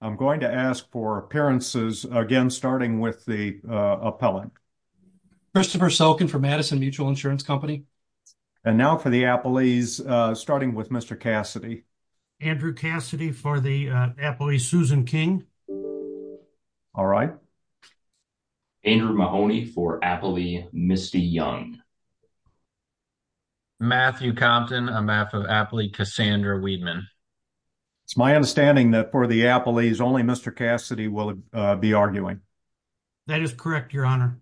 I'm going to ask for appearances again, starting with the appellant. Christopher Sulkin for Madison Mutual Insurance Company. And now for the appellees, starting with Mr. Cassidy. Andrew Cassidy for the appellee Susan King. All right. Andrew Mahoney for appellee Misty Young. Matthew Compton, a map of appellee Cassandra Weedman. It's my understanding that for the appellees, only Mr. Cassidy will be arguing. That is correct, Your Honor.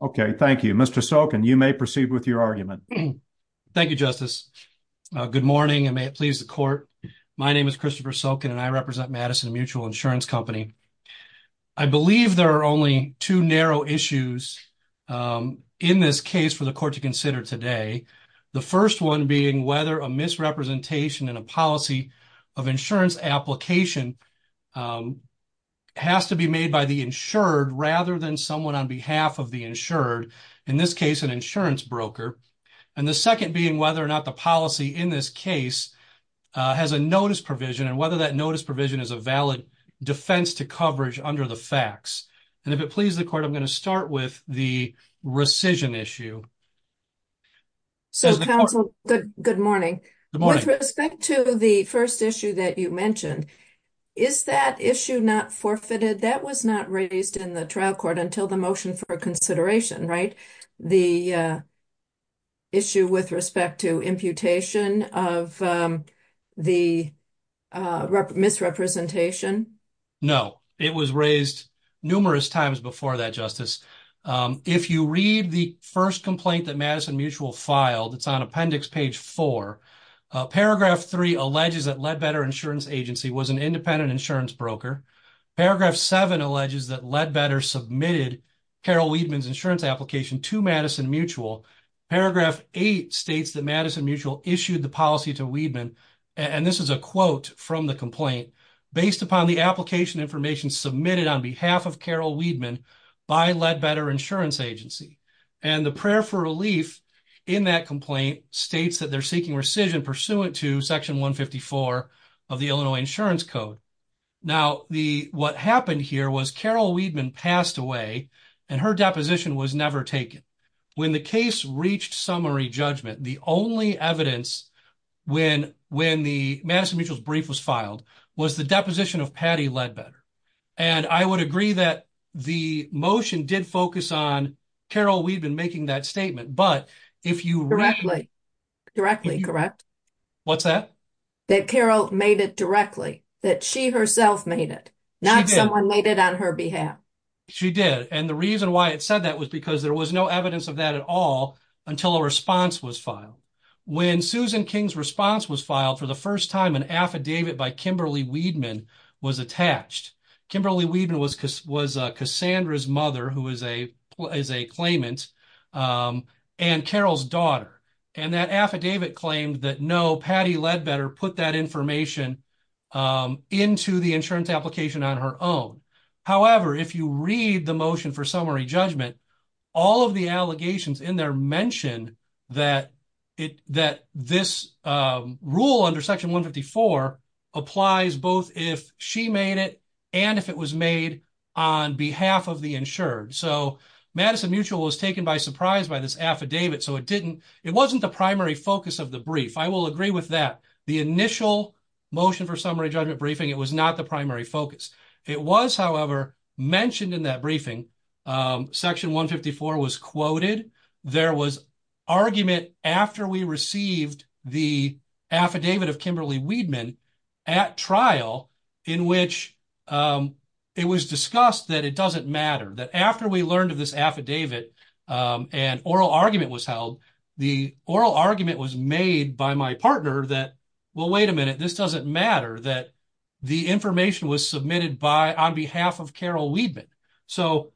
Okay, thank you. Mr. Sulkin, you may proceed with your argument. Thank you, Justice. Good morning, and may it please the court. My name is Christopher Sulkin, and I represent Madison Mutual Insurance Company. I believe there are only two narrow issues in this case for the court to consider today. The first one being whether a misrepresentation in a policy of insurance application has to be made by the insured rather than someone on behalf of the insured. In this case, an insurance broker. And the second being whether or not the policy in this case has a notice provision and whether that notice provision is a valid defense to coverage under the facts. And if it pleases the court, I'm going to start with the rescission issue. So, counsel, good morning. Good morning. With respect to the first issue that you mentioned, is that issue not forfeited? That was not raised in the trial court until the motion for consideration, right? The issue with respect to imputation of the misrepresentation? No, it was raised numerous times before that, Justice. If you read the first complaint that Madison Mutual filed, it's on appendix page 4. Paragraph 3 alleges that Leadbetter Insurance Agency was an independent insurance broker. Paragraph 7 alleges that Leadbetter submitted Carol Wiedemann's insurance application to Madison Mutual. Paragraph 8 states that Madison Mutual issued the policy to Wiedemann. And this is a quote from the complaint. Based upon the application information submitted on behalf of Carol Wiedemann by Leadbetter Insurance Agency. And the prayer for relief in that complaint states that they're seeking rescission pursuant to section 154 of the Illinois Insurance Code. Now, what happened here was Carol Wiedemann passed away and her deposition was never taken. When the case reached summary judgment, the only evidence when the Madison Mutual's brief was filed was the deposition of Patty Leadbetter. And I would agree that the motion did focus on Carol Wiedemann making that statement. But if you read... Directly, correct. What's that? That Carol made it directly. That she herself made it. She did. Not someone made it on her behalf. She did. And the reason why it said that was because there was no evidence of that at all until a response was filed. When Susan King's response was filed for the first time, an affidavit by Kimberly Wiedemann was attached. Kimberly Wiedemann was Cassandra's mother, who is a claimant, and Carol's daughter. And that affidavit claimed that no, Patty Leadbetter put that information into the insurance application on her own. However, if you read the motion for summary judgment, all of the allegations in there mention that this rule under Section 154 applies both if she made it and if it was made on behalf of the insured. So Madison Mutual was taken by surprise by this affidavit, so it didn't... It wasn't the primary focus of the brief. I will agree with that. The initial motion for summary judgment briefing, it was not the primary focus. It was, however, mentioned in that briefing. Section 154 was quoted. There was argument after we received the affidavit of Kimberly Wiedemann at trial in which it was discussed that it doesn't matter. That after we learned of this affidavit and oral argument was held, the oral argument was made by my partner that, well, wait a minute, this doesn't matter, that the information was submitted on behalf of Carol Wiedemann. So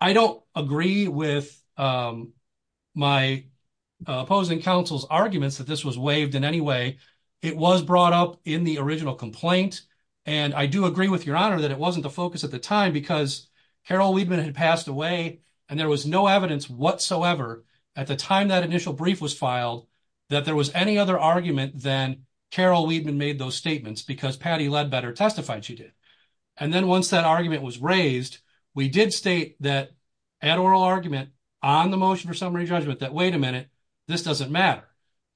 I don't agree with my opposing counsel's arguments that this was waived in any way. It was brought up in the original complaint. And I do agree with Your Honor that it wasn't the focus at the time because Carol Wiedemann had passed away and there was no evidence whatsoever at the time that initial brief was filed that there was any other argument than Carol Wiedemann made those statements because Patty Ledbetter testified she did. And then once that argument was raised, we did state that at oral argument on the motion for summary judgment that, wait a minute, this doesn't matter.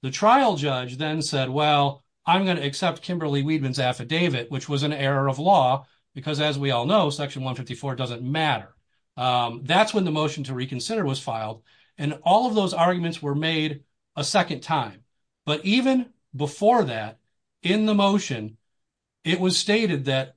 The trial judge then said, well, I'm going to accept Kimberly Wiedemann's affidavit, which was an error of law, because as we all know, Section 154 doesn't matter. That's when the motion to reconsider was filed. And all of those arguments were made a second time. But even before that, in the motion, it was stated that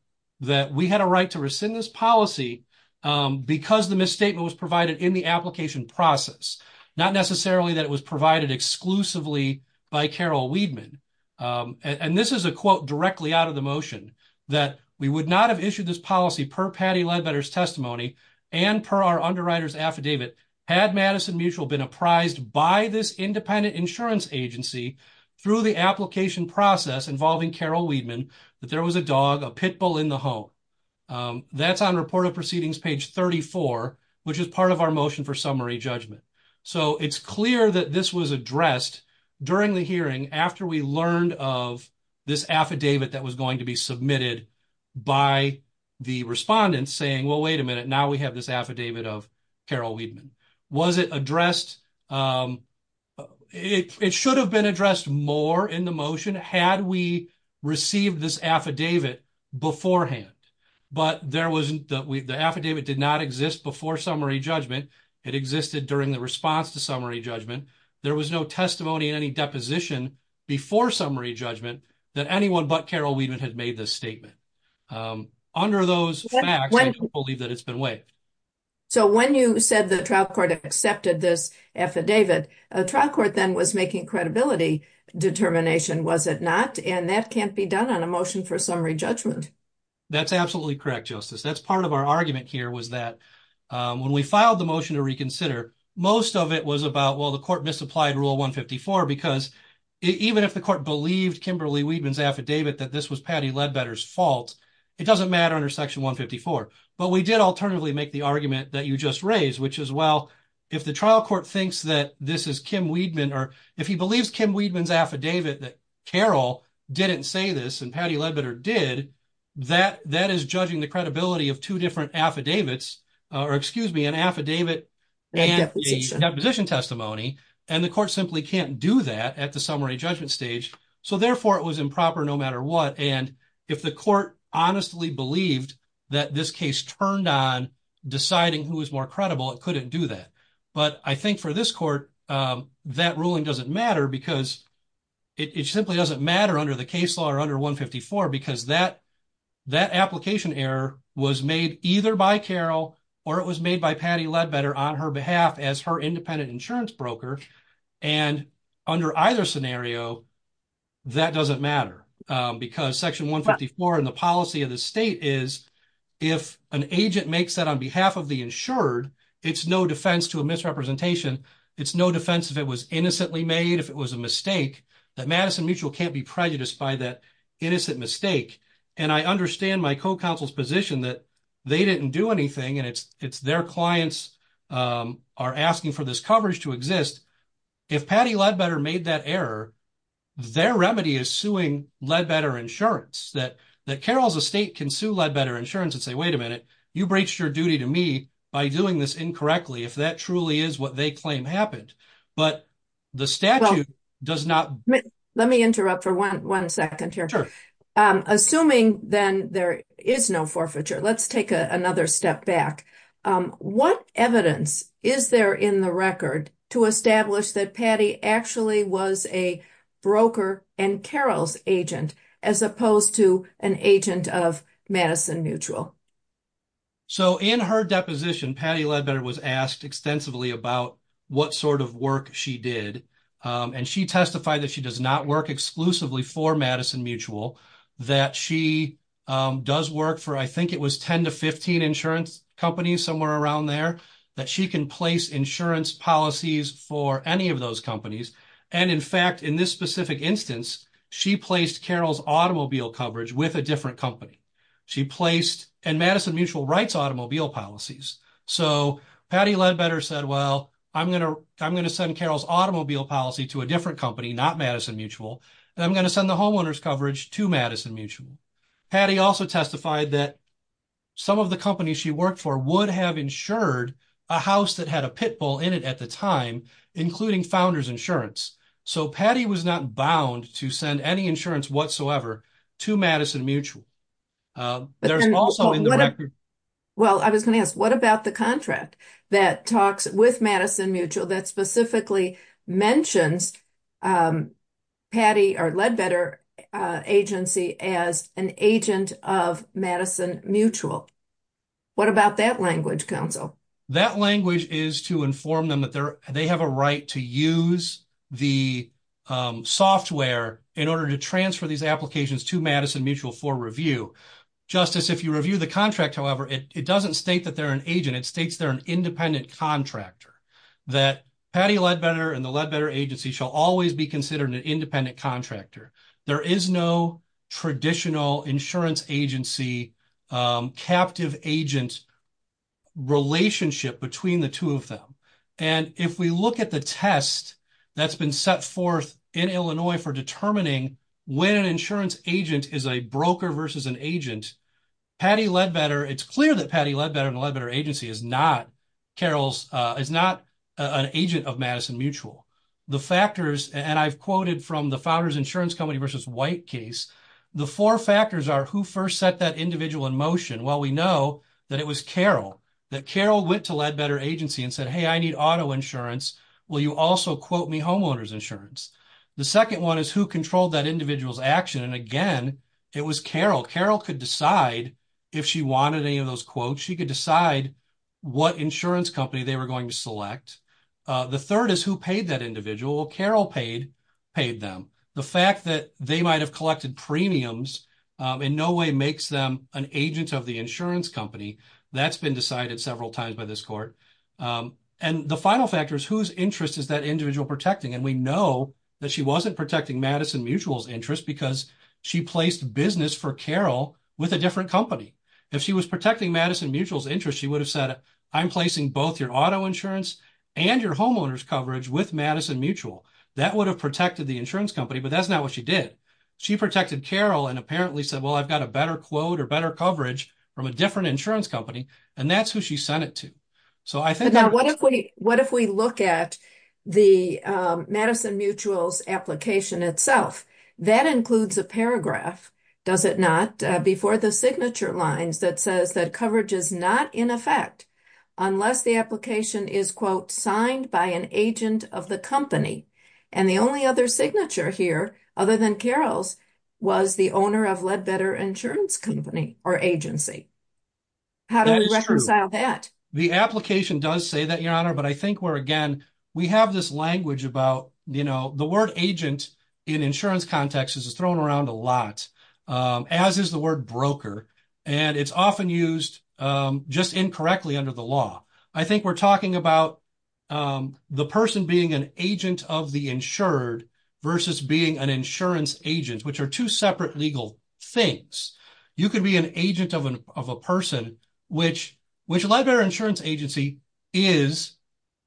we had a right to rescind this policy because the misstatement was provided in the application process, not necessarily that it was provided exclusively by Carol Wiedemann. And this is a quote directly out of the motion, that we would not have issued this policy per Patty Ledbetter's testimony and per our underwriter's affidavit had Madison Mutual been apprised by this independent insurance agency through the application process involving Carol Wiedemann, that there was a dog, a pit bull in the home. That's on Report of Proceedings, page 34, which is part of our motion for summary judgment. So it's clear that this was addressed during the hearing after we learned of this affidavit that was going to be submitted by the respondents saying, well, wait a minute, now we have this affidavit of Carol Wiedemann. Was it addressed? It should have been addressed more in the motion had we received this affidavit beforehand. But the affidavit did not exist before summary judgment. It existed during the response to summary judgment. There was no testimony in any deposition before summary judgment that anyone but Carol Wiedemann had made this statement. Under those facts, I don't believe that it's been waived. So when you said the trial court accepted this affidavit, the trial court then was making credibility determination, was it not? And that can't be done on a motion for summary judgment. That's absolutely correct, Justice. That's part of our argument here was that when we filed the motion to reconsider, most of it was about, well, the court misapplied Rule 154 because even if the court believed Kimberly Wiedemann's affidavit that this was Patty Ledbetter's fault, it doesn't matter under Section 154. But we did alternatively make the argument that you just raised, which is, well, if the trial court thinks that this is Kim Wiedemann, or if he believes Kim Wiedemann's affidavit that Carol didn't say this and Patty Ledbetter did, that is judging the credibility of two different affidavits, or excuse me, an affidavit and a deposition testimony. And the court simply can't do that at the summary judgment stage. So, therefore, it was improper no matter what. And if the court honestly believed that this case turned on deciding who was more credible, it couldn't do that. But I think for this court, that ruling doesn't matter because it simply doesn't matter under the case law or under 154 because that application error was made either by Carol or it was made by Patty Ledbetter on her behalf as her independent insurance broker. And under either scenario, that doesn't matter because Section 154 in the policy of the state is, if an agent makes that on behalf of the insured, it's no defense to a misrepresentation. It's no defense if it was innocently made, if it was a mistake, that Madison Mutual can't be prejudiced by that innocent mistake. And I understand my co-counsel's position that they didn't do anything and it's their clients are asking for this coverage to exist. If Patty Ledbetter made that error, their remedy is suing Ledbetter Insurance, that Carol's estate can sue Ledbetter Insurance and say, wait a minute, you breached your duty to me by doing this incorrectly, if that truly is what they claim happened. But the statute does not. Let me interrupt for one second here. Assuming then there is no forfeiture, let's take another step back. What evidence is there in the record to establish that Patty actually was a broker and Carol's agent as opposed to an agent of Madison Mutual? So in her deposition, Patty Ledbetter was asked extensively about what sort of work she did. And she testified that she does not work exclusively for Madison Mutual, that she does work for, I think it was 10 to 15 insurance companies somewhere around there, that she can place insurance policies for any of those companies. And in fact, in this specific instance, she placed Carol's automobile coverage with a different company. And Madison Mutual writes automobile policies. So Patty Ledbetter said, well, I'm going to send Carol's automobile policy to a different company, not Madison Mutual, and I'm going to send the homeowner's coverage to Madison Mutual. Patty also testified that some of the companies she worked for would have insured a house that had a pit bull in it at the time, including Founders Insurance. So Patty was not bound to send any insurance whatsoever to Madison Mutual. Well, I was going to ask, what about the contract that talks with Madison Mutual that specifically mentions Patty or Ledbetter agency as an agent of Madison Mutual? What about that language, counsel? That language is to inform them that they have a right to use the software in order to transfer these applications to Madison Mutual for review. Justice, if you review the contract, however, it doesn't state that they're an agent. It states they're an independent contractor, that Patty Ledbetter and the Ledbetter agency shall always be considered an independent contractor. There is no traditional insurance agency captive agent relationship between the two of them. And if we look at the test that's been set forth in Illinois for determining when an insurance agent is a broker versus an agent, Patty Ledbetter, it's clear that Patty Ledbetter and the Ledbetter agency is not, Carol's, is not an agent of Madison Mutual. The factors, and I've quoted from the Founders Insurance Company versus White case, the four factors are who first set that individual in motion? Well, we know that it was Carol, that Carol went to Ledbetter agency and said, hey, I need auto insurance. Will you also quote me homeowner's insurance? The second one is who controlled that individual's action? And again, it was Carol. Carol could decide if she wanted any of those quotes. She could decide what insurance company they were going to select. The third is who paid that individual? Carol paid, paid them. The fact that they might have collected premiums in no way makes them an agent of the insurance company. That's been decided several times by this court. And the final factor is whose interest is that individual protecting? And we know that she wasn't protecting Madison Mutual's interest because she placed business for Carol with a different company. If she was protecting Madison Mutual's interest, she would have said, I'm placing both your auto insurance and your homeowner's coverage with Madison Mutual. That would have protected the insurance company, but that's not what she did. She protected Carol and apparently said, well, I've got a better quote or better coverage from a different insurance company. And that's who she sent it to. So I think. What if we look at the Madison Mutual's application itself? That includes a paragraph, does it not, before the signature lines that says that coverage is not in effect unless the application is, quote, signed by an agent of the company. And the only other signature here, other than Carol's, was the owner of Leadbetter Insurance Company or agency. How do we reconcile that? The application does say that, Your Honor, but I think where, again, we have this language about, you know, the word agent in insurance context is thrown around a lot, as is the word broker. And it's often used just incorrectly under the law. I think we're talking about the person being an agent of the insured versus being an insurance agent, which are two separate legal things. You could be an agent of a person, which Leadbetter Insurance Agency is,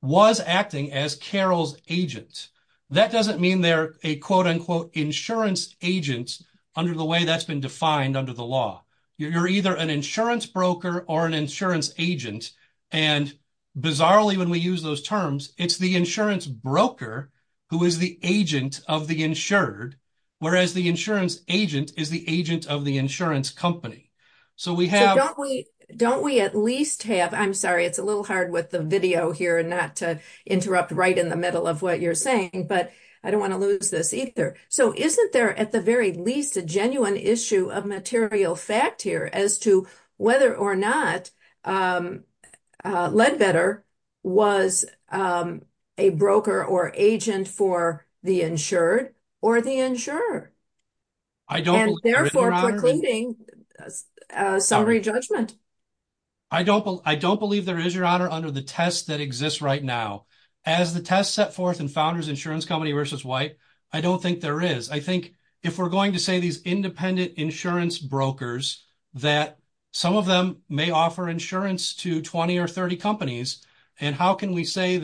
was acting as Carol's agent. That doesn't mean they're a, quote, unquote, insurance agent under the way that's been defined under the law. You're either an insurance broker or an insurance agent. And bizarrely, when we use those terms, it's the insurance broker who is the agent of the insured, whereas the insurance agent is the agent of the insurance company. So we have- Don't we at least have, I'm sorry, it's a little hard with the video here not to interrupt right in the middle of what you're saying, but I don't want to lose this either. So isn't there at the very least a genuine issue of material fact here as to whether or not Leadbetter was a broker or agent for the insured or the insurer? And therefore precluding summary judgment. I don't believe there is, Your Honor, under the test that exists right now. As the test set forth in Founders Insurance Company v. White, I don't think there is. I think if we're going to say these independent insurance brokers, that some of them may offer insurance to 20 or 30 companies. And how can we say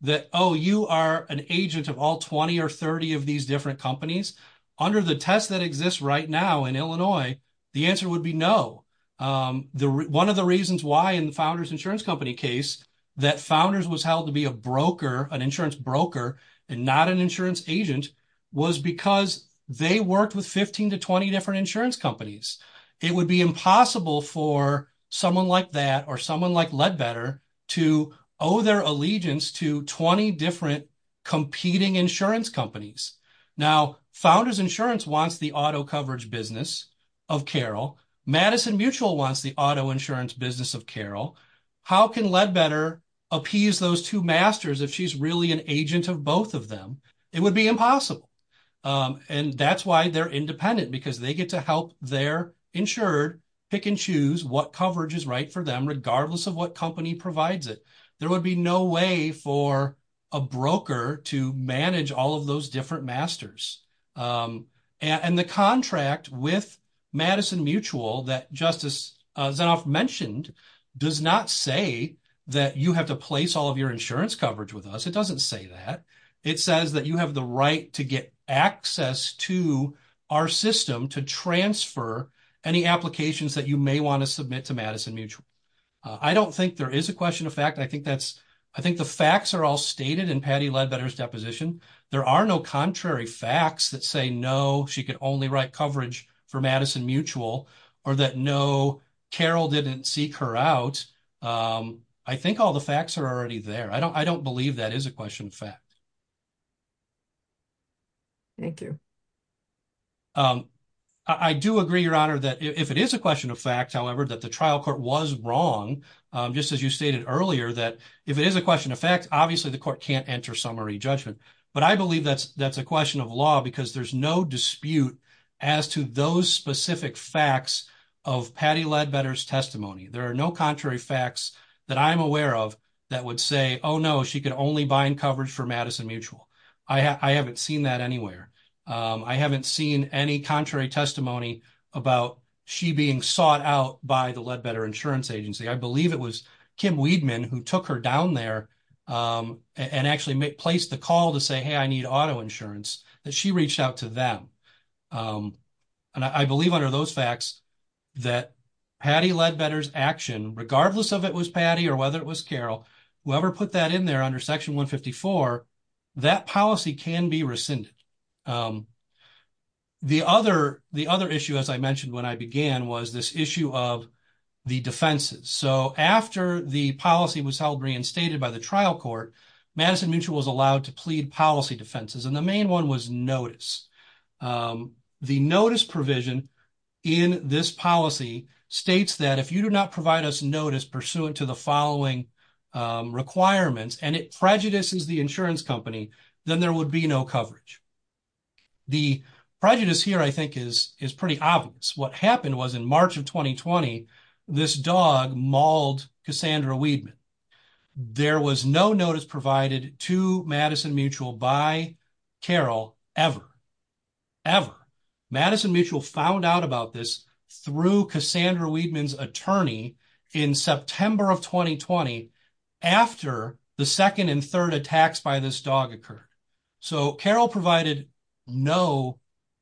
that, oh, you are an agent of all 20 or 30 of these different companies? Under the test that exists right now in Illinois, the answer would be no. One of the reasons why in the Founders Insurance Company case that Founders was held to be a broker, an insurance broker, and not an insurance agent, was because they worked with 15 to 20 different insurance companies. It would be impossible for someone like that or someone like Leadbetter to owe their allegiance to 20 different competing insurance companies. Now, Founders Insurance wants the auto coverage business of Carroll. Madison Mutual wants the auto insurance business of Carroll. How can Leadbetter appease those two masters if she's really an agent of both of them? It would be impossible. And that's why they're independent, because they get to help their insured pick and choose what coverage is right for them, regardless of what company provides it. There would be no way for a broker to manage all of those different masters. And the contract with Madison Mutual that Justice Zinoff mentioned does not say that you have to place all of your insurance coverage with us. It doesn't say that. It says that you have the right to get access to our system to transfer any applications that you may want to submit to Madison Mutual. I don't think there is a question of fact. I think the facts are all stated in Patty Leadbetter's deposition. There are no contrary facts that say, no, she could only write coverage for Madison Mutual or that, no, Carroll didn't seek her out. I think all the facts are already there. I don't believe that is a question of fact. Thank you. I do agree, Your Honor, that if it is a question of fact, however, that the trial court was wrong, just as you stated earlier, that if it is a question of fact, obviously the court can't enter summary judgment. But I believe that's a question of law because there's no dispute as to those specific facts of Patty Leadbetter's testimony. There are no contrary facts that I'm aware of that would say, oh, no, she could only bind coverage for Madison Mutual. I haven't seen that anywhere. I haven't seen any contrary testimony about she being sought out by the Leadbetter Insurance Agency. I believe it was Kim Weidman who took her down there and actually placed the call to say, hey, I need auto insurance, that she reached out to them. And I believe under those facts that Patty Leadbetter's action, regardless of it was Patty or whether it was Carroll, whoever put that in there under Section 154, that policy can be rescinded. The other issue, as I mentioned when I began, was this issue of the defenses. So after the policy was held reinstated by the trial court, Madison Mutual was allowed to plead policy defenses, and the main one was notice. The notice provision in this policy states that if you do not provide us notice pursuant to the following requirements and it prejudices the insurance company, then there would be no coverage. The prejudice here, I think, is pretty obvious. What happened was in March of 2020, this dog mauled Cassandra Weidman. There was no notice provided to Madison Mutual by Carroll ever, ever. Madison Mutual found out about this through Cassandra Weidman's attorney in September of 2020 after the second and third attacks by this dog occurred. So Carroll provided no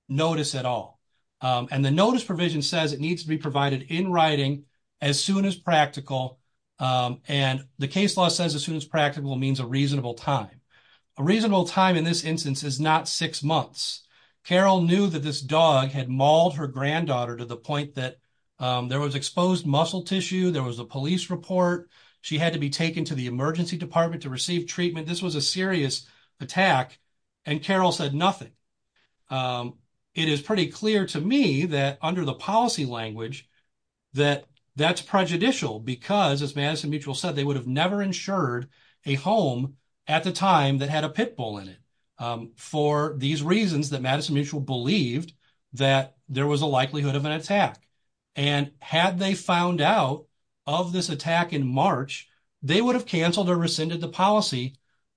notice at all. And the notice provision says it needs to be provided in writing as soon as practical, and the case law says as soon as practical means a reasonable time. A reasonable time in this instance is not six months. Carroll knew that this dog had mauled her granddaughter to the point that there was exposed muscle tissue, there was a police report, she had to be taken to the emergency department to receive treatment. This was a serious attack, and Carroll said nothing. It is pretty clear to me that under the policy language that that's prejudicial because, as Madison Mutual said, they would have never insured a home at the time that had a pit bull in it. For these reasons that Madison Mutual believed that there was a likelihood of an attack. And had they found out of this attack in March, they would have canceled or rescinded the policy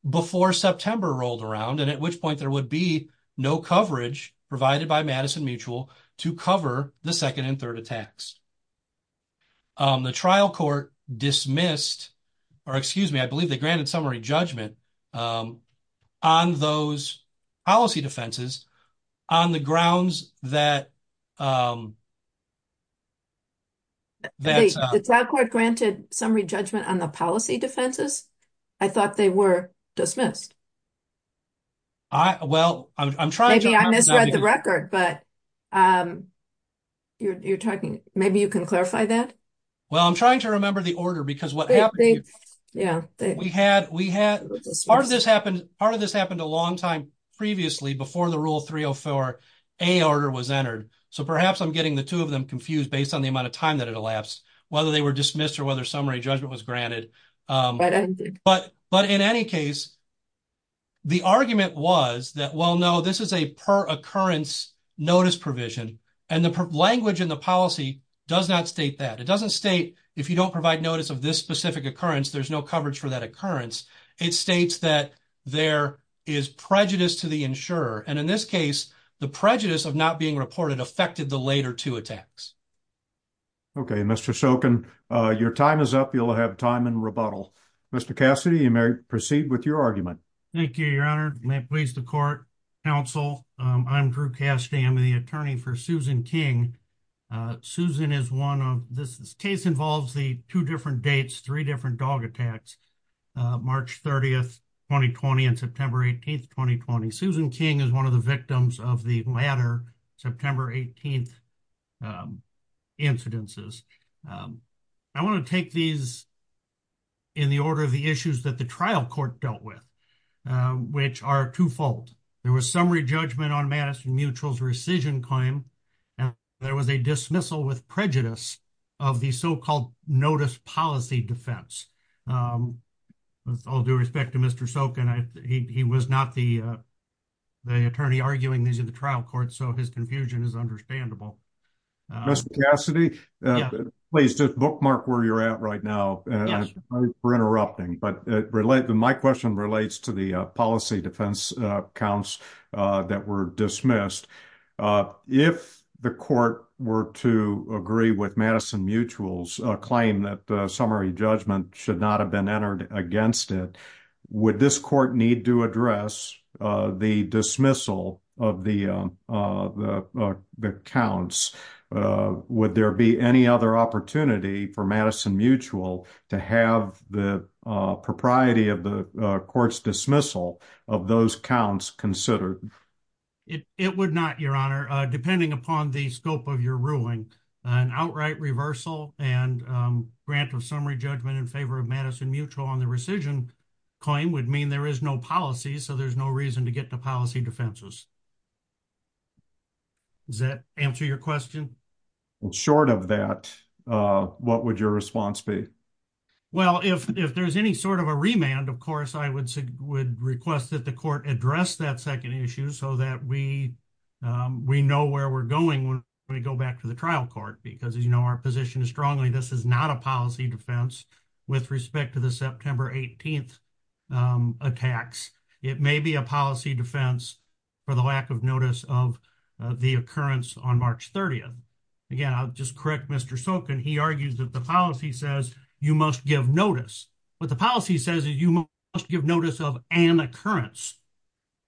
before September rolled around and at which point there would be no coverage provided by Madison Mutual to cover the second and third attacks. The trial court dismissed, or excuse me, I believe they granted summary judgment on those policy defenses on the grounds that... The trial court granted summary judgment on the policy defenses? I thought they were dismissed. Well, I'm trying to... Maybe I misread the record, but you're talking, maybe you can clarify that. Well, I'm trying to remember the order because what happened... Yeah, they... Part of this happened a long time previously before the Rule 304A order was entered. So perhaps I'm getting the two of them confused based on the amount of time that it elapsed, whether they were dismissed or whether summary judgment was granted. But in any case... The argument was that, well, no, this is a per-occurrence notice provision. And the language in the policy does not state that. It doesn't state, if you don't provide notice of this specific occurrence, there's no coverage for that occurrence. It states that there is prejudice to the insurer. And in this case, the prejudice of not being reported affected the later two attacks. Okay, Mr. Shoken, your time is up. You'll have time in rebuttal. Mr. Cassidy, you may proceed with your argument. Thank you, Your Honor. May it please the court, counsel, I'm Drew Cassidy. I'm the attorney for Susan King. Susan is one of... This case involves the two different dates, three different dog attacks, March 30th, 2020 and September 18th, 2020. Susan King is one of the victims of the latter September 18th incidences. I want to take these in the order of the issues that the trial court dealt with, which are twofold. There was summary judgment on Madison Mutual's rescission claim. There was a dismissal with prejudice of the so-called notice policy defense. With all due respect to Mr. Shoken, he was not the attorney arguing these in the trial court, so his confusion is understandable. Mr. Cassidy, please just bookmark where you're at right now. Sorry for interrupting, but my question relates to the policy defense counts that were dismissed. If the court were to agree with Madison Mutual's claim that summary judgment should not have been entered against it, would this court need to address the dismissal of the counts? Would there be any other opportunity for Madison Mutual to have the propriety of the court's dismissal of those counts considered? It would not, Your Honor, depending upon the scope of your ruling. An outright reversal and grant of summary judgment in favor of Madison Mutual on the rescission claim would mean there is no policy, so there's no reason to get to policy defenses. Does that answer your question? Short of that, what would your response be? Well, if there's any sort of a remand, of course, I would request that the court address that second issue so that we know where we're going when we go back to the trial court. Because, as you know, our position is strongly this is not a policy defense with respect to the September 18th attacks. It may be a policy defense for the lack of notice of the occurrence on March 30th. Again, I'll just correct Mr. Sokin, he argues that the policy says you must give notice. What the policy says is you must give notice of an occurrence,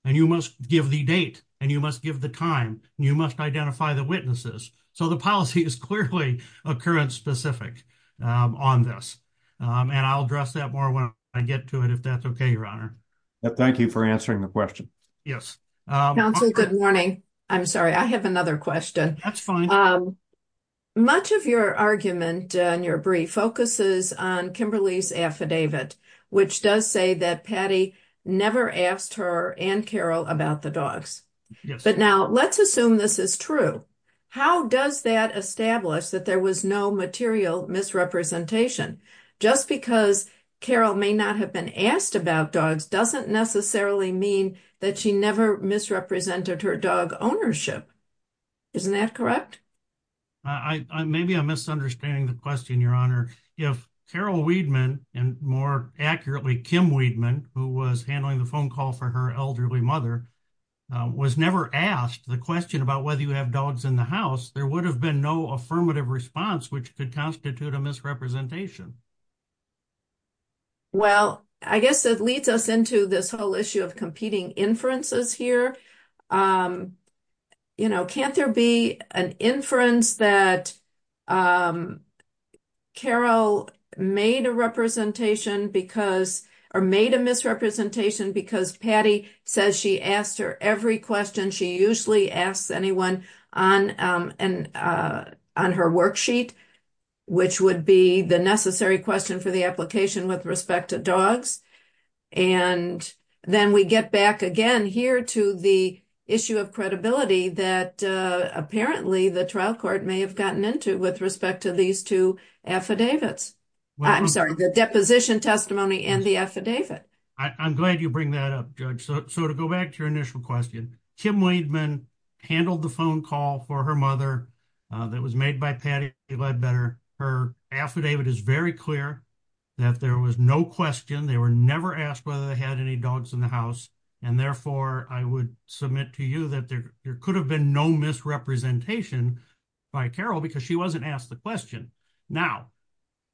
and you must give the date, and you must give the time, and you must identify the witnesses. So the policy is clearly occurrence specific on this. And I'll address that more when I get to it, if that's okay, Your Honor. Thank you for answering the question. Yes. Counsel, good morning. I'm sorry, I have another question. That's fine. Much of your argument in your brief focuses on Kimberly's affidavit, which does say that Patty never asked her and Carol about the dogs. Yes. But now let's assume this is true. How does that establish that there was no material misrepresentation? Just because Carol may not have been asked about dogs doesn't necessarily mean that she never misrepresented her dog ownership. Isn't that correct? Maybe I'm misunderstanding the question, Your Honor. If Carol Weidman, and more accurately, Kim Weidman, who was handling the phone call for her elderly mother, was never asked the question about whether you have dogs in the house, there would have been no affirmative response, which could constitute a misrepresentation. Well, I guess it leads us into this whole issue of competing inferences here. Can't there be an inference that Carol made a misrepresentation because Patty says she asked her every question she usually asks anyone on her worksheet, which would be the necessary question for the application with respect to dogs? And then we get back again here to the issue of credibility that apparently the trial court may have gotten into with respect to these two affidavits. I'm sorry, the deposition testimony and the affidavit. I'm glad you bring that up, Judge. So to go back to your initial question, Kim Weidman handled the phone call for her mother that was made by Patty Ledbetter. Her affidavit is very clear that there was no question. They were never asked whether they had any dogs in the house. And therefore, I would submit to you that there could have been no misrepresentation by Carol because she wasn't asked the question. Now,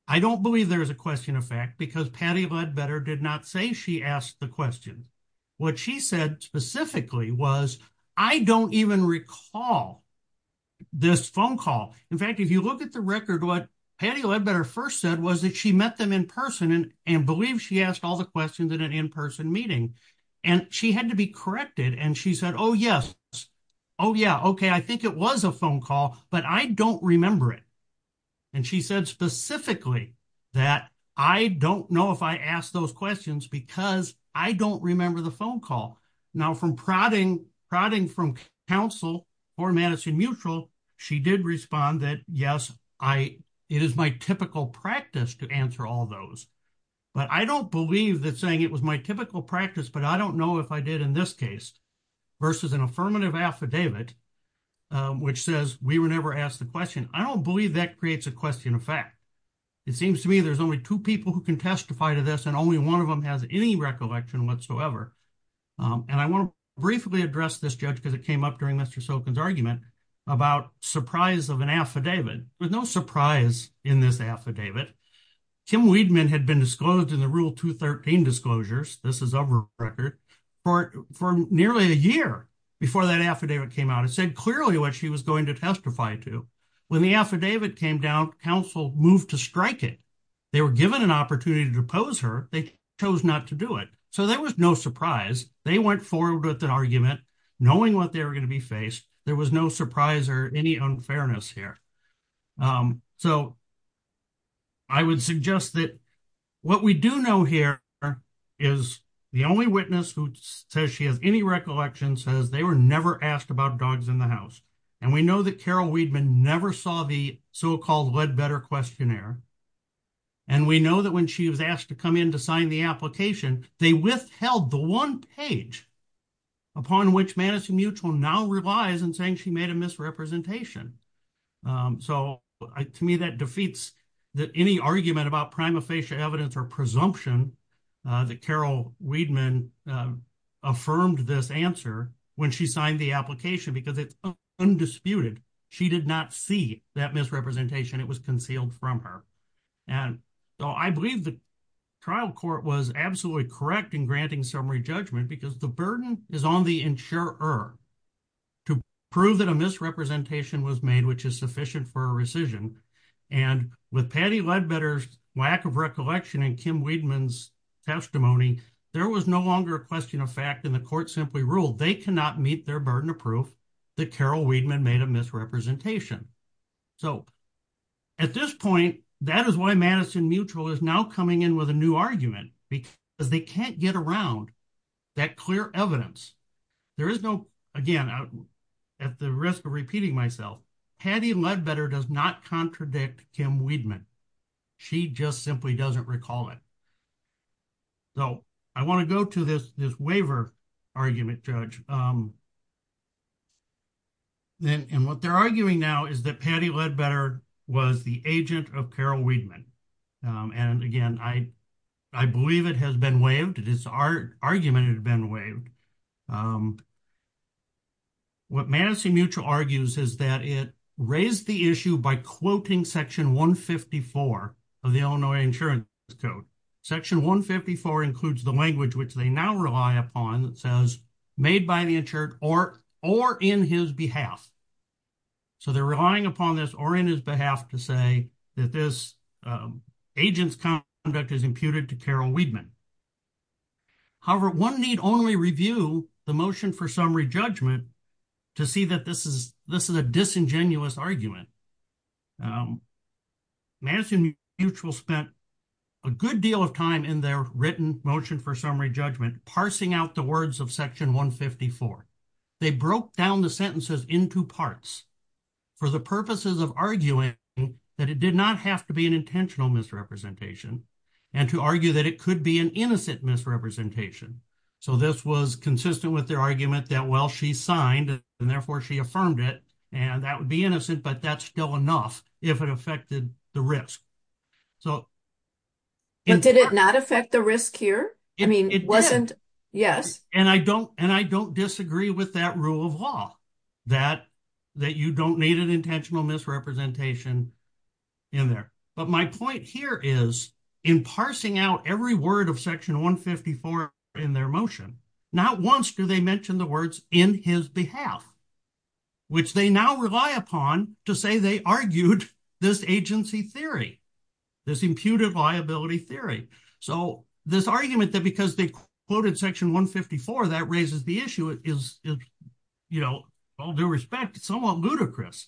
I don't believe there is a question of fact because Patty Ledbetter did not say she asked the question. What she said specifically was, I don't even recall this phone call. In fact, if you look at the record, what Patty Ledbetter first said was that she met them in person and believed she asked all the questions in an in-person meeting. And she had to be corrected. And she said, oh, yes. Oh, yeah, okay. I think it was a phone call, but I don't remember it. And she said specifically that I don't know if I asked those questions because I don't remember the phone call. Now, from prodding from counsel for Madison Mutual, she did respond that, yes, it is my typical practice to answer all those. But I don't believe that saying it was my typical practice, but I don't know if I did in this case, versus an affirmative affidavit, which says we were never asked the question. I don't believe that creates a question of fact. It seems to me there's only two people who can testify to this, and only one of them has any recollection whatsoever. And I want to briefly address this, Judge, because it came up during Mr. Silkin's argument about surprise of an affidavit. There's no surprise in this affidavit. Kim Weidman had been disclosed in the Rule 213 disclosures, this is of her record, for nearly a year before that affidavit came out. It said clearly what she was going to testify to. When the affidavit came down, counsel moved to strike it. They were given an opportunity to oppose her. They chose not to do it. So there was no surprise. They went forward with an argument, knowing what they were going to be faced. There was no surprise or any unfairness here. So I would suggest that what we do know here is the only witness who says she has any recollection says they were never asked about dogs in the house. And we know that Carol Weidman never saw the so-called Ledbetter questionnaire. And we know that when she was asked to come in to sign the application, they withheld the one page upon which Madison Mutual now relies in saying she made a misrepresentation. So, to me, that defeats any argument about prima facie evidence or presumption that Carol Weidman affirmed this answer when she signed the application because it's undisputed. She did not see that misrepresentation. It was concealed from her. And so I believe the trial court was absolutely correct in granting summary judgment because the burden is on the insurer to prove that a misrepresentation was made, which is sufficient for a rescission. And with Patty Ledbetter's lack of recollection and Kim Weidman's testimony, there was no longer a question of fact and the court simply ruled they cannot meet their burden of proof that Carol Weidman made a misrepresentation. So, at this point, that is why Madison Mutual is now coming in with a new argument because they can't get around that clear evidence. There is no, again, at the risk of repeating myself, Patty Ledbetter does not contradict Kim Weidman. She just simply doesn't recall it. So, I want to go to this waiver argument, Judge. And what they're arguing now is that Patty Ledbetter was the agent of Carol Weidman. And again, I believe it has been waived. It is our argument it has been waived. What Madison Mutual argues is that it raised the issue by quoting Section 154 of the Illinois Insurance Code. Section 154 includes the language which they now rely upon that says made by the insured or in his behalf. So, they're relying upon this or in his behalf to say that this agent's conduct is imputed to Carol Weidman. However, one need only review the motion for summary judgment to see that this is a disingenuous argument. Madison Mutual spent a good deal of time in their written motion for summary judgment, parsing out the words of Section 154. They broke down the sentences into parts for the purposes of arguing that it did not have to be an intentional misrepresentation and to argue that it could be an innocent misrepresentation. So, this was consistent with their argument that, well, she signed, and therefore she affirmed it, and that would be innocent, but that's still enough if it affected the risk. So, did it not affect the risk here. I mean, it wasn't. Yes, and I don't and I don't disagree with that rule of law that that you don't need an intentional misrepresentation in there. But my point here is in parsing out every word of Section 154 in their motion, not once do they mention the words in his behalf, which they now rely upon to say they argued this agency theory, this imputed liability theory. So, this argument that because they quoted Section 154 that raises the issue is, you know, all due respect, somewhat ludicrous.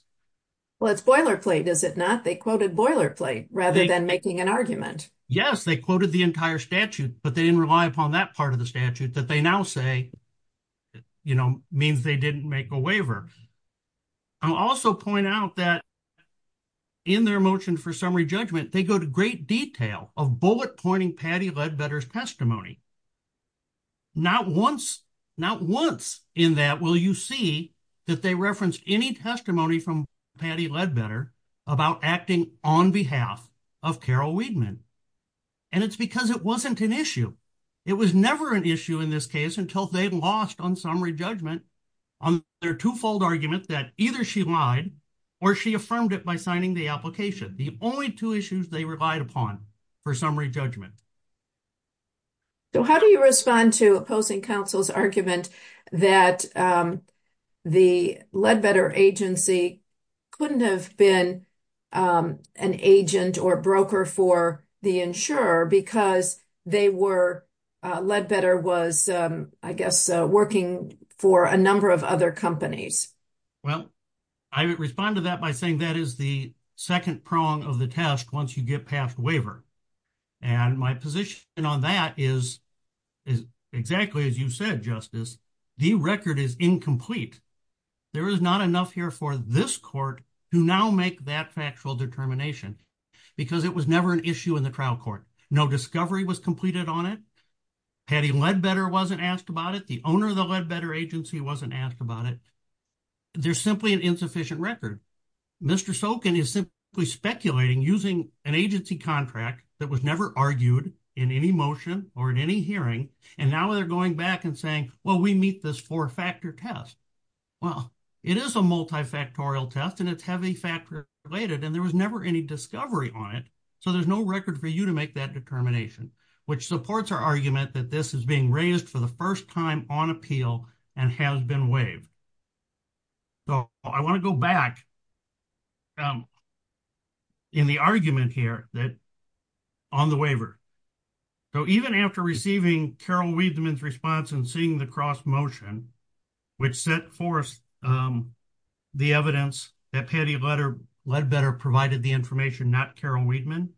Well, it's boilerplate, is it not? They quoted boilerplate rather than making an argument. Yes, they quoted the entire statute, but they didn't rely upon that part of the statute that they now say, you know, means they didn't make a waiver. I'll also point out that in their motion for summary judgment, they go to great detail of bullet pointing Patty Ledbetter's testimony. Not once, not once in that will you see that they referenced any testimony from Patty Ledbetter about acting on behalf of Carol Wiedemann. And it's because it wasn't an issue. It was never an issue in this case until they lost on summary judgment on their twofold argument that either she lied or she affirmed it by signing the application. The only two issues they relied upon for summary judgment. So, how do you respond to opposing counsel's argument that the Ledbetter agency couldn't have been an agent or broker for the insurer because they were, Ledbetter was, I guess, working for a number of other companies? Well, I would respond to that by saying that is the second prong of the test once you get passed waiver. And my position on that is, is exactly as you said, Justice, the record is incomplete. There is not enough here for this court to now make that factual determination, because it was never an issue in the trial court. No discovery was completed on it. Patty Ledbetter wasn't asked about it. The owner of the Ledbetter agency wasn't asked about it. There's simply an insufficient record. Mr. Sokin is simply speculating using an agency contract that was never argued in any motion or in any hearing. And now they're going back and saying, well, we meet this four factor test. Well, it is a multifactorial test and it's heavy factor related and there was never any discovery on it. So there's no record for you to make that determination, which supports our argument that this is being raised for the first time on appeal and has been waived. So, I want to go back in the argument here that on the waiver. So even after receiving Carol Wiedemann's response and seeing the cross motion, which set forth the evidence that Patty Ledbetter provided the information, not Carol Wiedemann,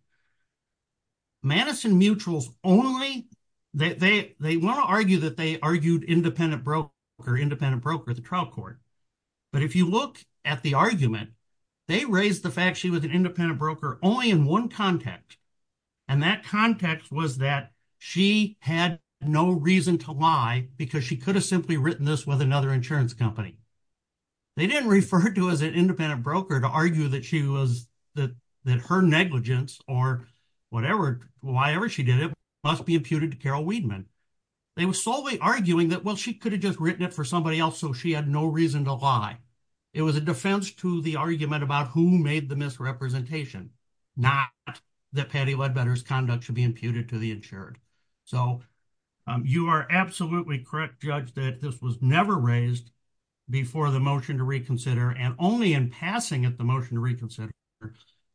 Madison Mutuals only, they want to argue that they argued independent broker, independent broker, the trial court. But if you look at the argument, they raised the fact she was an independent broker only in one context. And that context was that she had no reason to lie, because she could have simply written this with another insurance company. They didn't refer to as an independent broker to argue that she was that that her negligence or whatever, why ever she did it must be imputed to Carol Wiedemann. They were solely arguing that well she could have just written it for somebody else so she had no reason to lie. It was a defense to the argument about who made the misrepresentation, not that Patty Ledbetter's conduct should be imputed to the insured. So, you are absolutely correct judge that this was never raised before the motion to reconsider and only in passing at the motion to reconsider.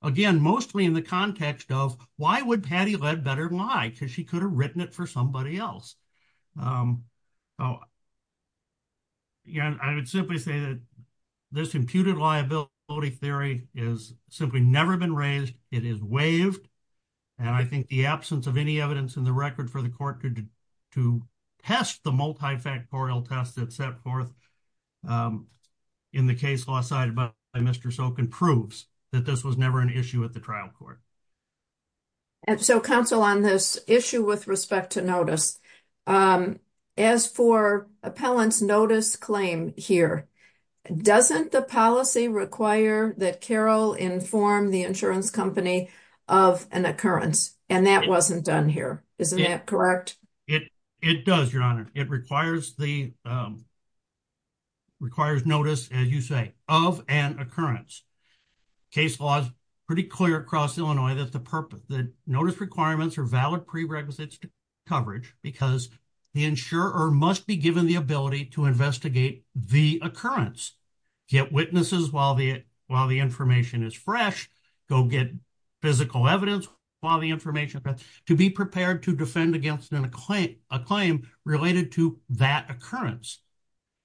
Again, mostly in the context of why would Patty Ledbetter lie because she could have written it for somebody else. Oh, yeah, I would simply say that this imputed liability theory is simply never been raised, it is waived. And I think the absence of any evidence in the record for the court to test the multifactorial test that set forth in the case law side by Mr. Sokin proves that this was never an issue at the trial court. And so counsel on this issue with respect to notice. As for appellants notice claim here. Doesn't the policy require that Carol inform the insurance company of an occurrence, and that wasn't done here. Isn't that correct, it, it does your honor, it requires the requires notice, as you say, of an occurrence. Case laws, pretty clear across Illinois that the purpose that notice requirements are valid prerequisites to coverage, because the insurer must be given the ability to investigate the occurrence. Get witnesses while the while the information is fresh, go get physical evidence, while the information to be prepared to defend against an acclaimed acclaimed related to that occurrence.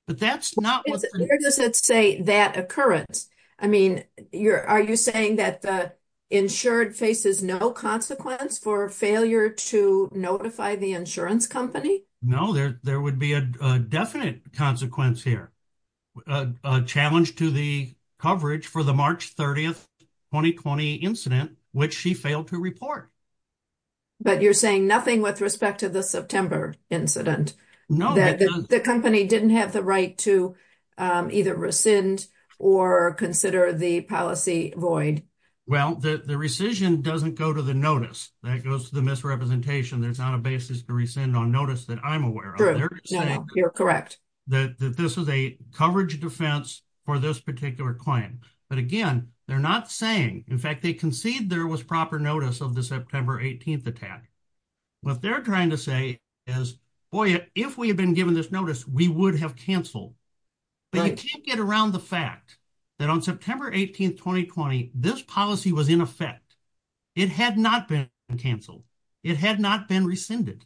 But that's not what does it say that occurrence. I mean, you're, are you saying that the insured faces no consequence for failure to notify the insurance company. No, there, there would be a definite consequence here, a challenge to the coverage for the March 30 2020 incident, which she failed to report. But you're saying nothing with respect to the September incident. No, the company didn't have the right to either rescind or consider the policy void. Well, the rescission doesn't go to the notice that goes to the misrepresentation. There's not a basis to rescind on notice that I'm aware of. You're correct that this is a coverage defense for this particular client. But again, they're not saying in fact they concede there was proper notice of the September 18 attack. What they're trying to say is, boy, if we had been given this notice, we would have canceled. But I can't get around the fact that on September 18 2020 this policy was in effect. It had not been canceled. It had not been rescinded.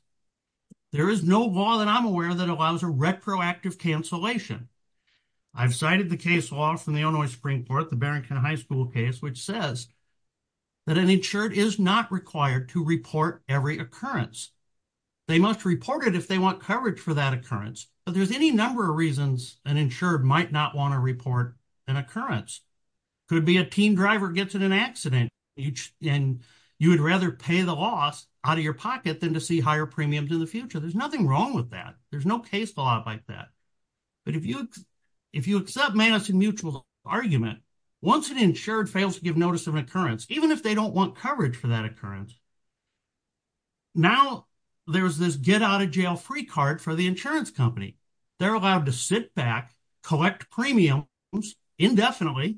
There is no law that I'm aware that allows a retroactive cancellation. I've cited the case law from the Illinois Supreme Court, the Barrington High School case which says that an insured is not required to report every occurrence. They must report it if they want coverage for that occurrence. But there's any number of reasons an insured might not want to report an occurrence. Could be a teen driver gets in an accident and you would rather pay the loss out of your pocket than to see higher premiums in the future. There's nothing wrong with that. There's no case law like that. But if you accept Madison Mutual's argument, once an insured fails to give notice of an occurrence, even if they don't want coverage for that occurrence, now there's this get out of jail free card for the insurance company. They're allowed to sit back, collect premiums indefinitely,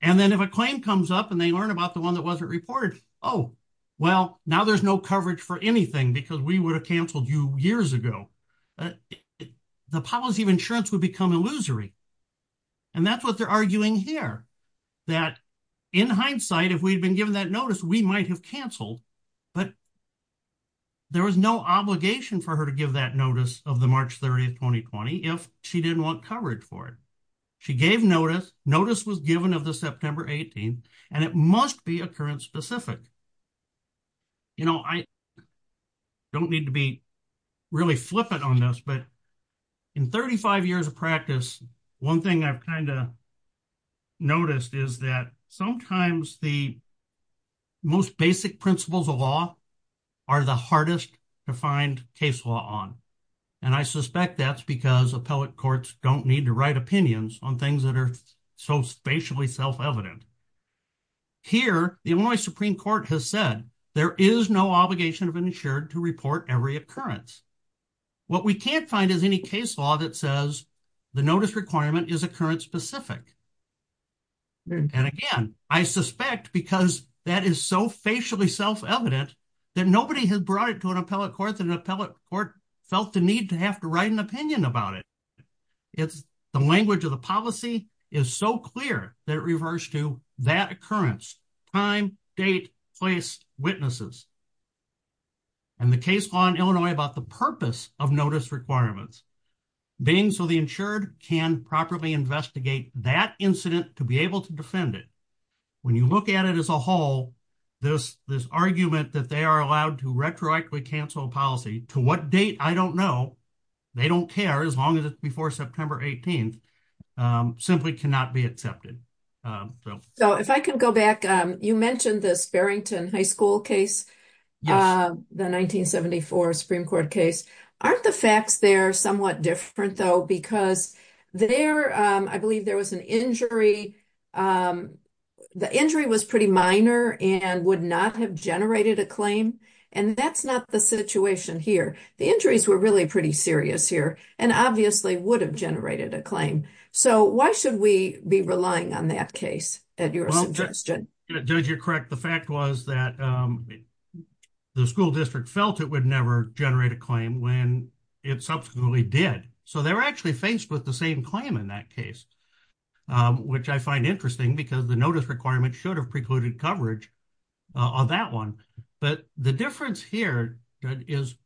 and then if a claim comes up and they learn about the one that wasn't reported, oh, well, now there's no coverage for anything because we would have canceled you years ago. The policy of insurance would become illusory. And that's what they're arguing here, that in hindsight, if we'd been given that notice, we might have canceled. But there was no obligation for her to give that notice of the March 30th, 2020, if she didn't want coverage for it. She gave notice. Notice was given of the September 18th, and it must be occurrence specific. You know, I don't need to be really flippant on this, but in 35 years of practice, one thing I've kind of noticed is that sometimes the most basic principles of law are the hardest to find case law on. And I suspect that's because appellate courts don't need to write opinions on things that are so spatially self-evident. Here, the Illinois Supreme Court has said there is no obligation of an insured to report every occurrence. What we can't find is any case law that says the notice requirement is occurrence specific. And again, I suspect because that is so facially self-evident that nobody has brought it to an appellate court that an appellate court felt the need to have to write an opinion about it. The language of the policy is so clear that it refers to that occurrence, time, date, place, witnesses. And the case law in Illinois about the purpose of notice requirements, being so the insured can properly investigate that incident to be able to defend it. When you look at it as a whole, this argument that they are allowed to retroactively cancel a policy, to what date, I don't know. They don't care as long as it's before September 18th, simply cannot be accepted. So if I can go back, you mentioned this Barrington High School case, the 1974 Supreme Court case. Aren't the facts there somewhat different, though, because there, I believe there was an injury. The injury was pretty minor and would not have generated a claim. And that's not the situation here. The injuries were really pretty serious here and obviously would have generated a claim. So why should we be relying on that case at your suggestion? Judge, you're correct. The fact was that the school district felt it would never generate a claim when it subsequently did. So they were actually faced with the same claim in that case, which I find interesting because the notice requirement should have precluded coverage on that one. But the difference here is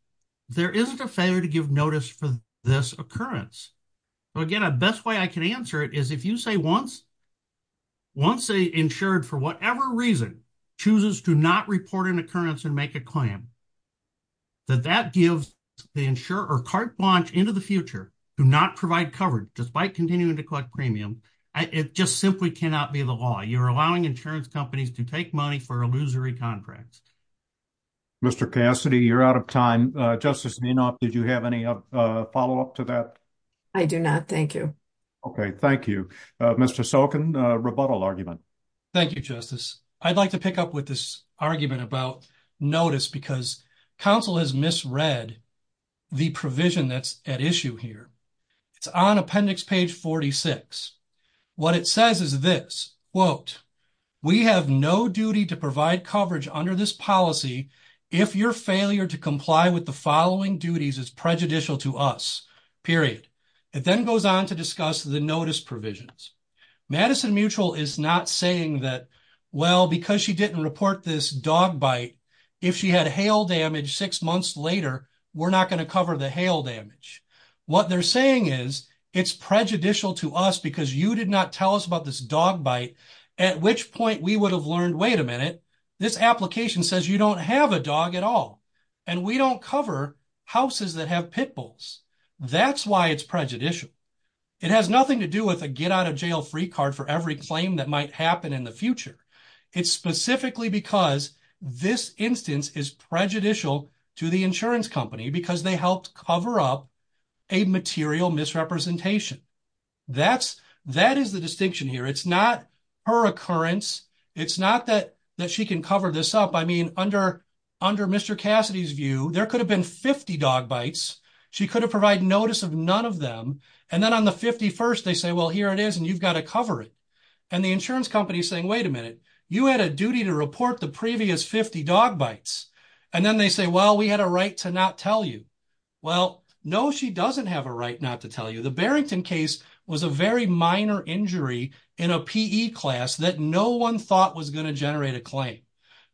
there isn't a failure to give notice for this occurrence. So, again, the best way I can answer it is if you say once the insured, for whatever reason, chooses to not report an occurrence and make a claim, that that gives the insurer carte blanche into the future to not provide coverage despite continuing to collect premium. It just simply cannot be the law. You're allowing insurance companies to take money for illusory contracts. Mr. Cassidy, you're out of time. Did you have any follow-up to that? I do not. Thank you. Okay. Thank you. Mr. Sokin, rebuttal argument. Thank you, Justice. I'd like to pick up with this argument about notice because counsel has misread the provision that's at issue here. It's on appendix page 46. What it says is this, quote, we have no duty to provide coverage under this policy if your failure to comply with the following duties is prejudicial to us, period. It then goes on to discuss the notice provisions. Madison Mutual is not saying that, well, because she didn't report this dog bite, if she had hail damage six months later, we're not going to cover the hail damage. What they're saying is it's prejudicial to us because you did not tell us about this dog bite, at which point we would have learned, wait a minute, this application says you don't have a dog at all, and we don't cover houses that have pit bulls. That's why it's prejudicial. It has nothing to do with a get-out-of-jail-free card for every claim that might happen in the future. It's specifically because this instance is prejudicial to the insurance company because they helped cover up a material misrepresentation. That is the distinction here. It's not her occurrence. It's not that she can cover this up. I mean, under Mr. Cassidy's view, there could have been 50 dog bites. She could have provided notice of none of them. And then on the 51st, they say, well, here it is, and you've got to cover it. And the insurance company is saying, wait a minute, you had a duty to report the previous 50 dog bites. And then they say, well, we had a right to not tell you. Well, no, she doesn't have a right not to tell you. The Barrington case was a very minor injury in a PE class that no one thought was going to generate a claim.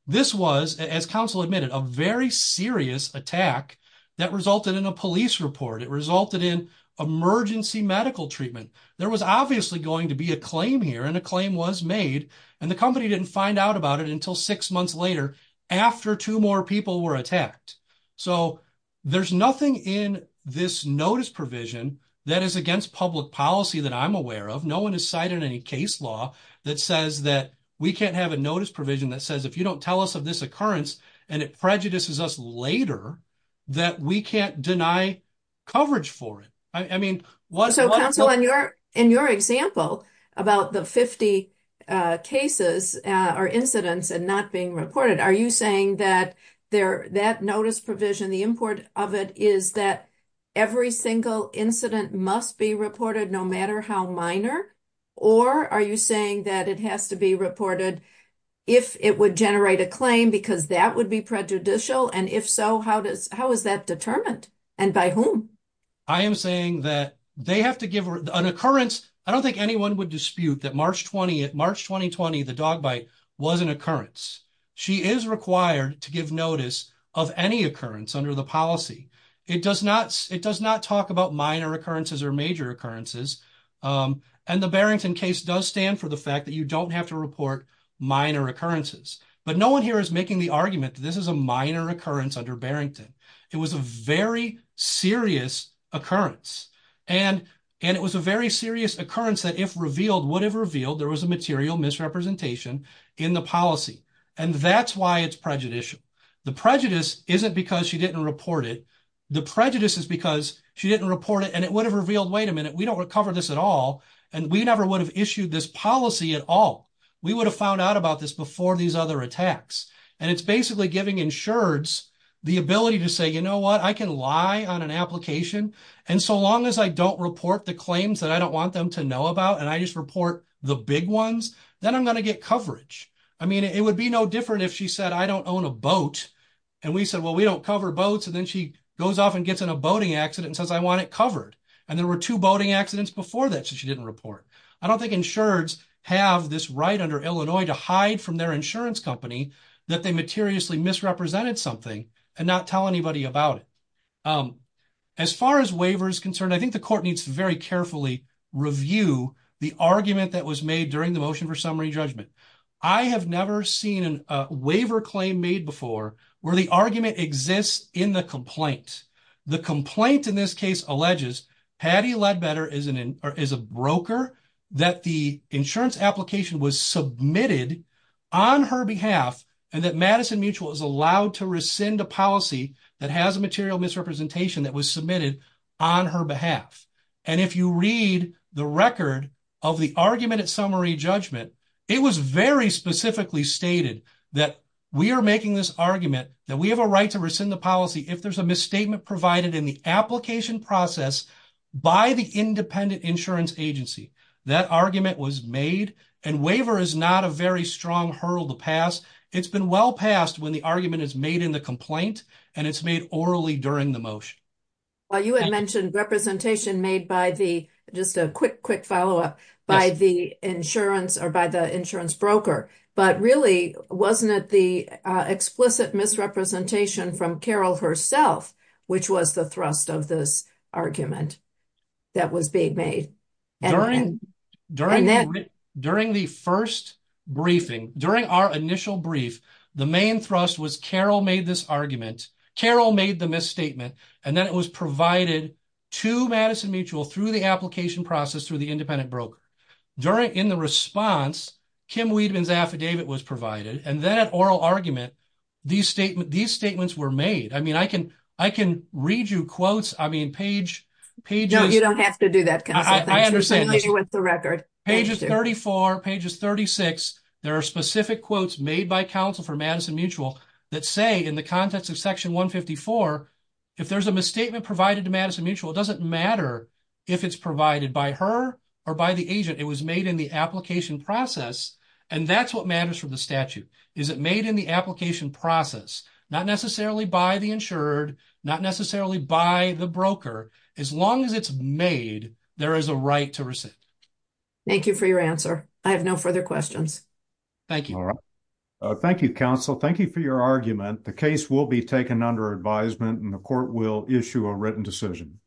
This was, as counsel admitted, a very serious attack that resulted in a police report. It resulted in emergency medical treatment. There was obviously going to be a claim here, and a claim was made. And the company didn't find out about it until six months later after two more people were attacked. So there's nothing in this notice provision that is against public policy that I'm aware of. No one has cited any case law that says that we can't have a notice provision that says if you don't tell us of this occurrence, and it prejudices us later, that we can't deny coverage for it. So, counsel, in your example about the 50 cases or incidents and not being reported, are you saying that that notice provision, the import of it, is that every single incident must be reported no matter how minor? Or are you saying that it has to be reported if it would generate a claim because that would be prejudicial? And if so, how is that determined? And by whom? I am saying that they have to give an occurrence. I don't think anyone would dispute that March 20th, March 2020, the dog bite was an occurrence. She is required to give notice of any occurrence under the policy. It does not talk about minor occurrences or major occurrences. And the Barrington case does stand for the fact that you don't have to report minor occurrences. But no one here is making the argument that this is a minor occurrence under Barrington. It was a very serious occurrence. And it was a very serious occurrence that if revealed, would have revealed there was a material misrepresentation in the policy. And that's why it's prejudicial. The prejudice isn't because she didn't report it. The prejudice is because she didn't report it and it would have revealed, wait a minute, we don't recover this at all. And we never would have issued this policy at all. We would have found out about this before these other attacks. And it's basically giving insureds the ability to say, you know what, I can lie on an application. And so long as I don't report the claims that I don't want them to know about and I just report the big ones, then I'm going to get coverage. I mean, it would be no different if she said, I don't own a boat. And we said, well, we don't cover boats. And then she goes off and gets in a boating accident and says, I want it covered. And there were two boating accidents before that. So she didn't report. I don't think insureds have this right under Illinois to hide from their insurance company that they materially misrepresented something and not tell anybody about it. As far as waiver is concerned, I think the court needs to very carefully review the argument that was made during the motion for summary judgment. I have never seen a waiver claim made before where the argument exists in the complaint. The complaint in this case alleges Patty Ledbetter is a broker, that the insurance application was submitted on her behalf, and that Madison Mutual is allowed to rescind a policy that has a material misrepresentation that was submitted on her behalf. And if you read the record of the argument at summary judgment, it was very specifically stated that we are making this argument that we have a right to rescind the policy if there's a misstatement provided in the application process by the independent insurance agency. That argument was made, and waiver is not a very strong hurdle to pass. It's been well passed when the argument is made in the complaint, and it's made orally during the motion. Well, you had mentioned representation made by the, just a quick, quick follow up, by the insurance or by the insurance broker. But really, wasn't it the explicit misrepresentation from Carol herself, which was the thrust of this argument that was being made? During the first briefing, during our initial brief, the main thrust was Carol made this argument. Carol made the misstatement, and then it was provided to Madison Mutual through the application process through the independent broker. During, in the response, Kim Weidman's affidavit was provided, and then at oral argument, these statements were made. I mean, I can read you quotes. I mean, page, pages. You don't have to do that, counsel. I understand. You're familiar with the record. Pages 34, pages 36. There are specific quotes made by counsel for Madison Mutual that say in the context of section 154, if there's a misstatement provided to Madison Mutual, it doesn't matter if it's provided by her or by the agent. It was made in the application process, and that's what matters for the statute, is it made in the application process, not necessarily by the insured, not necessarily by the broker. As long as it's made, there is a right to rescind. Thank you for your answer. I have no further questions. Thank you. Thank you, counsel. Thank you for your argument. The case will be taken under advisement, and the court will issue a written decision.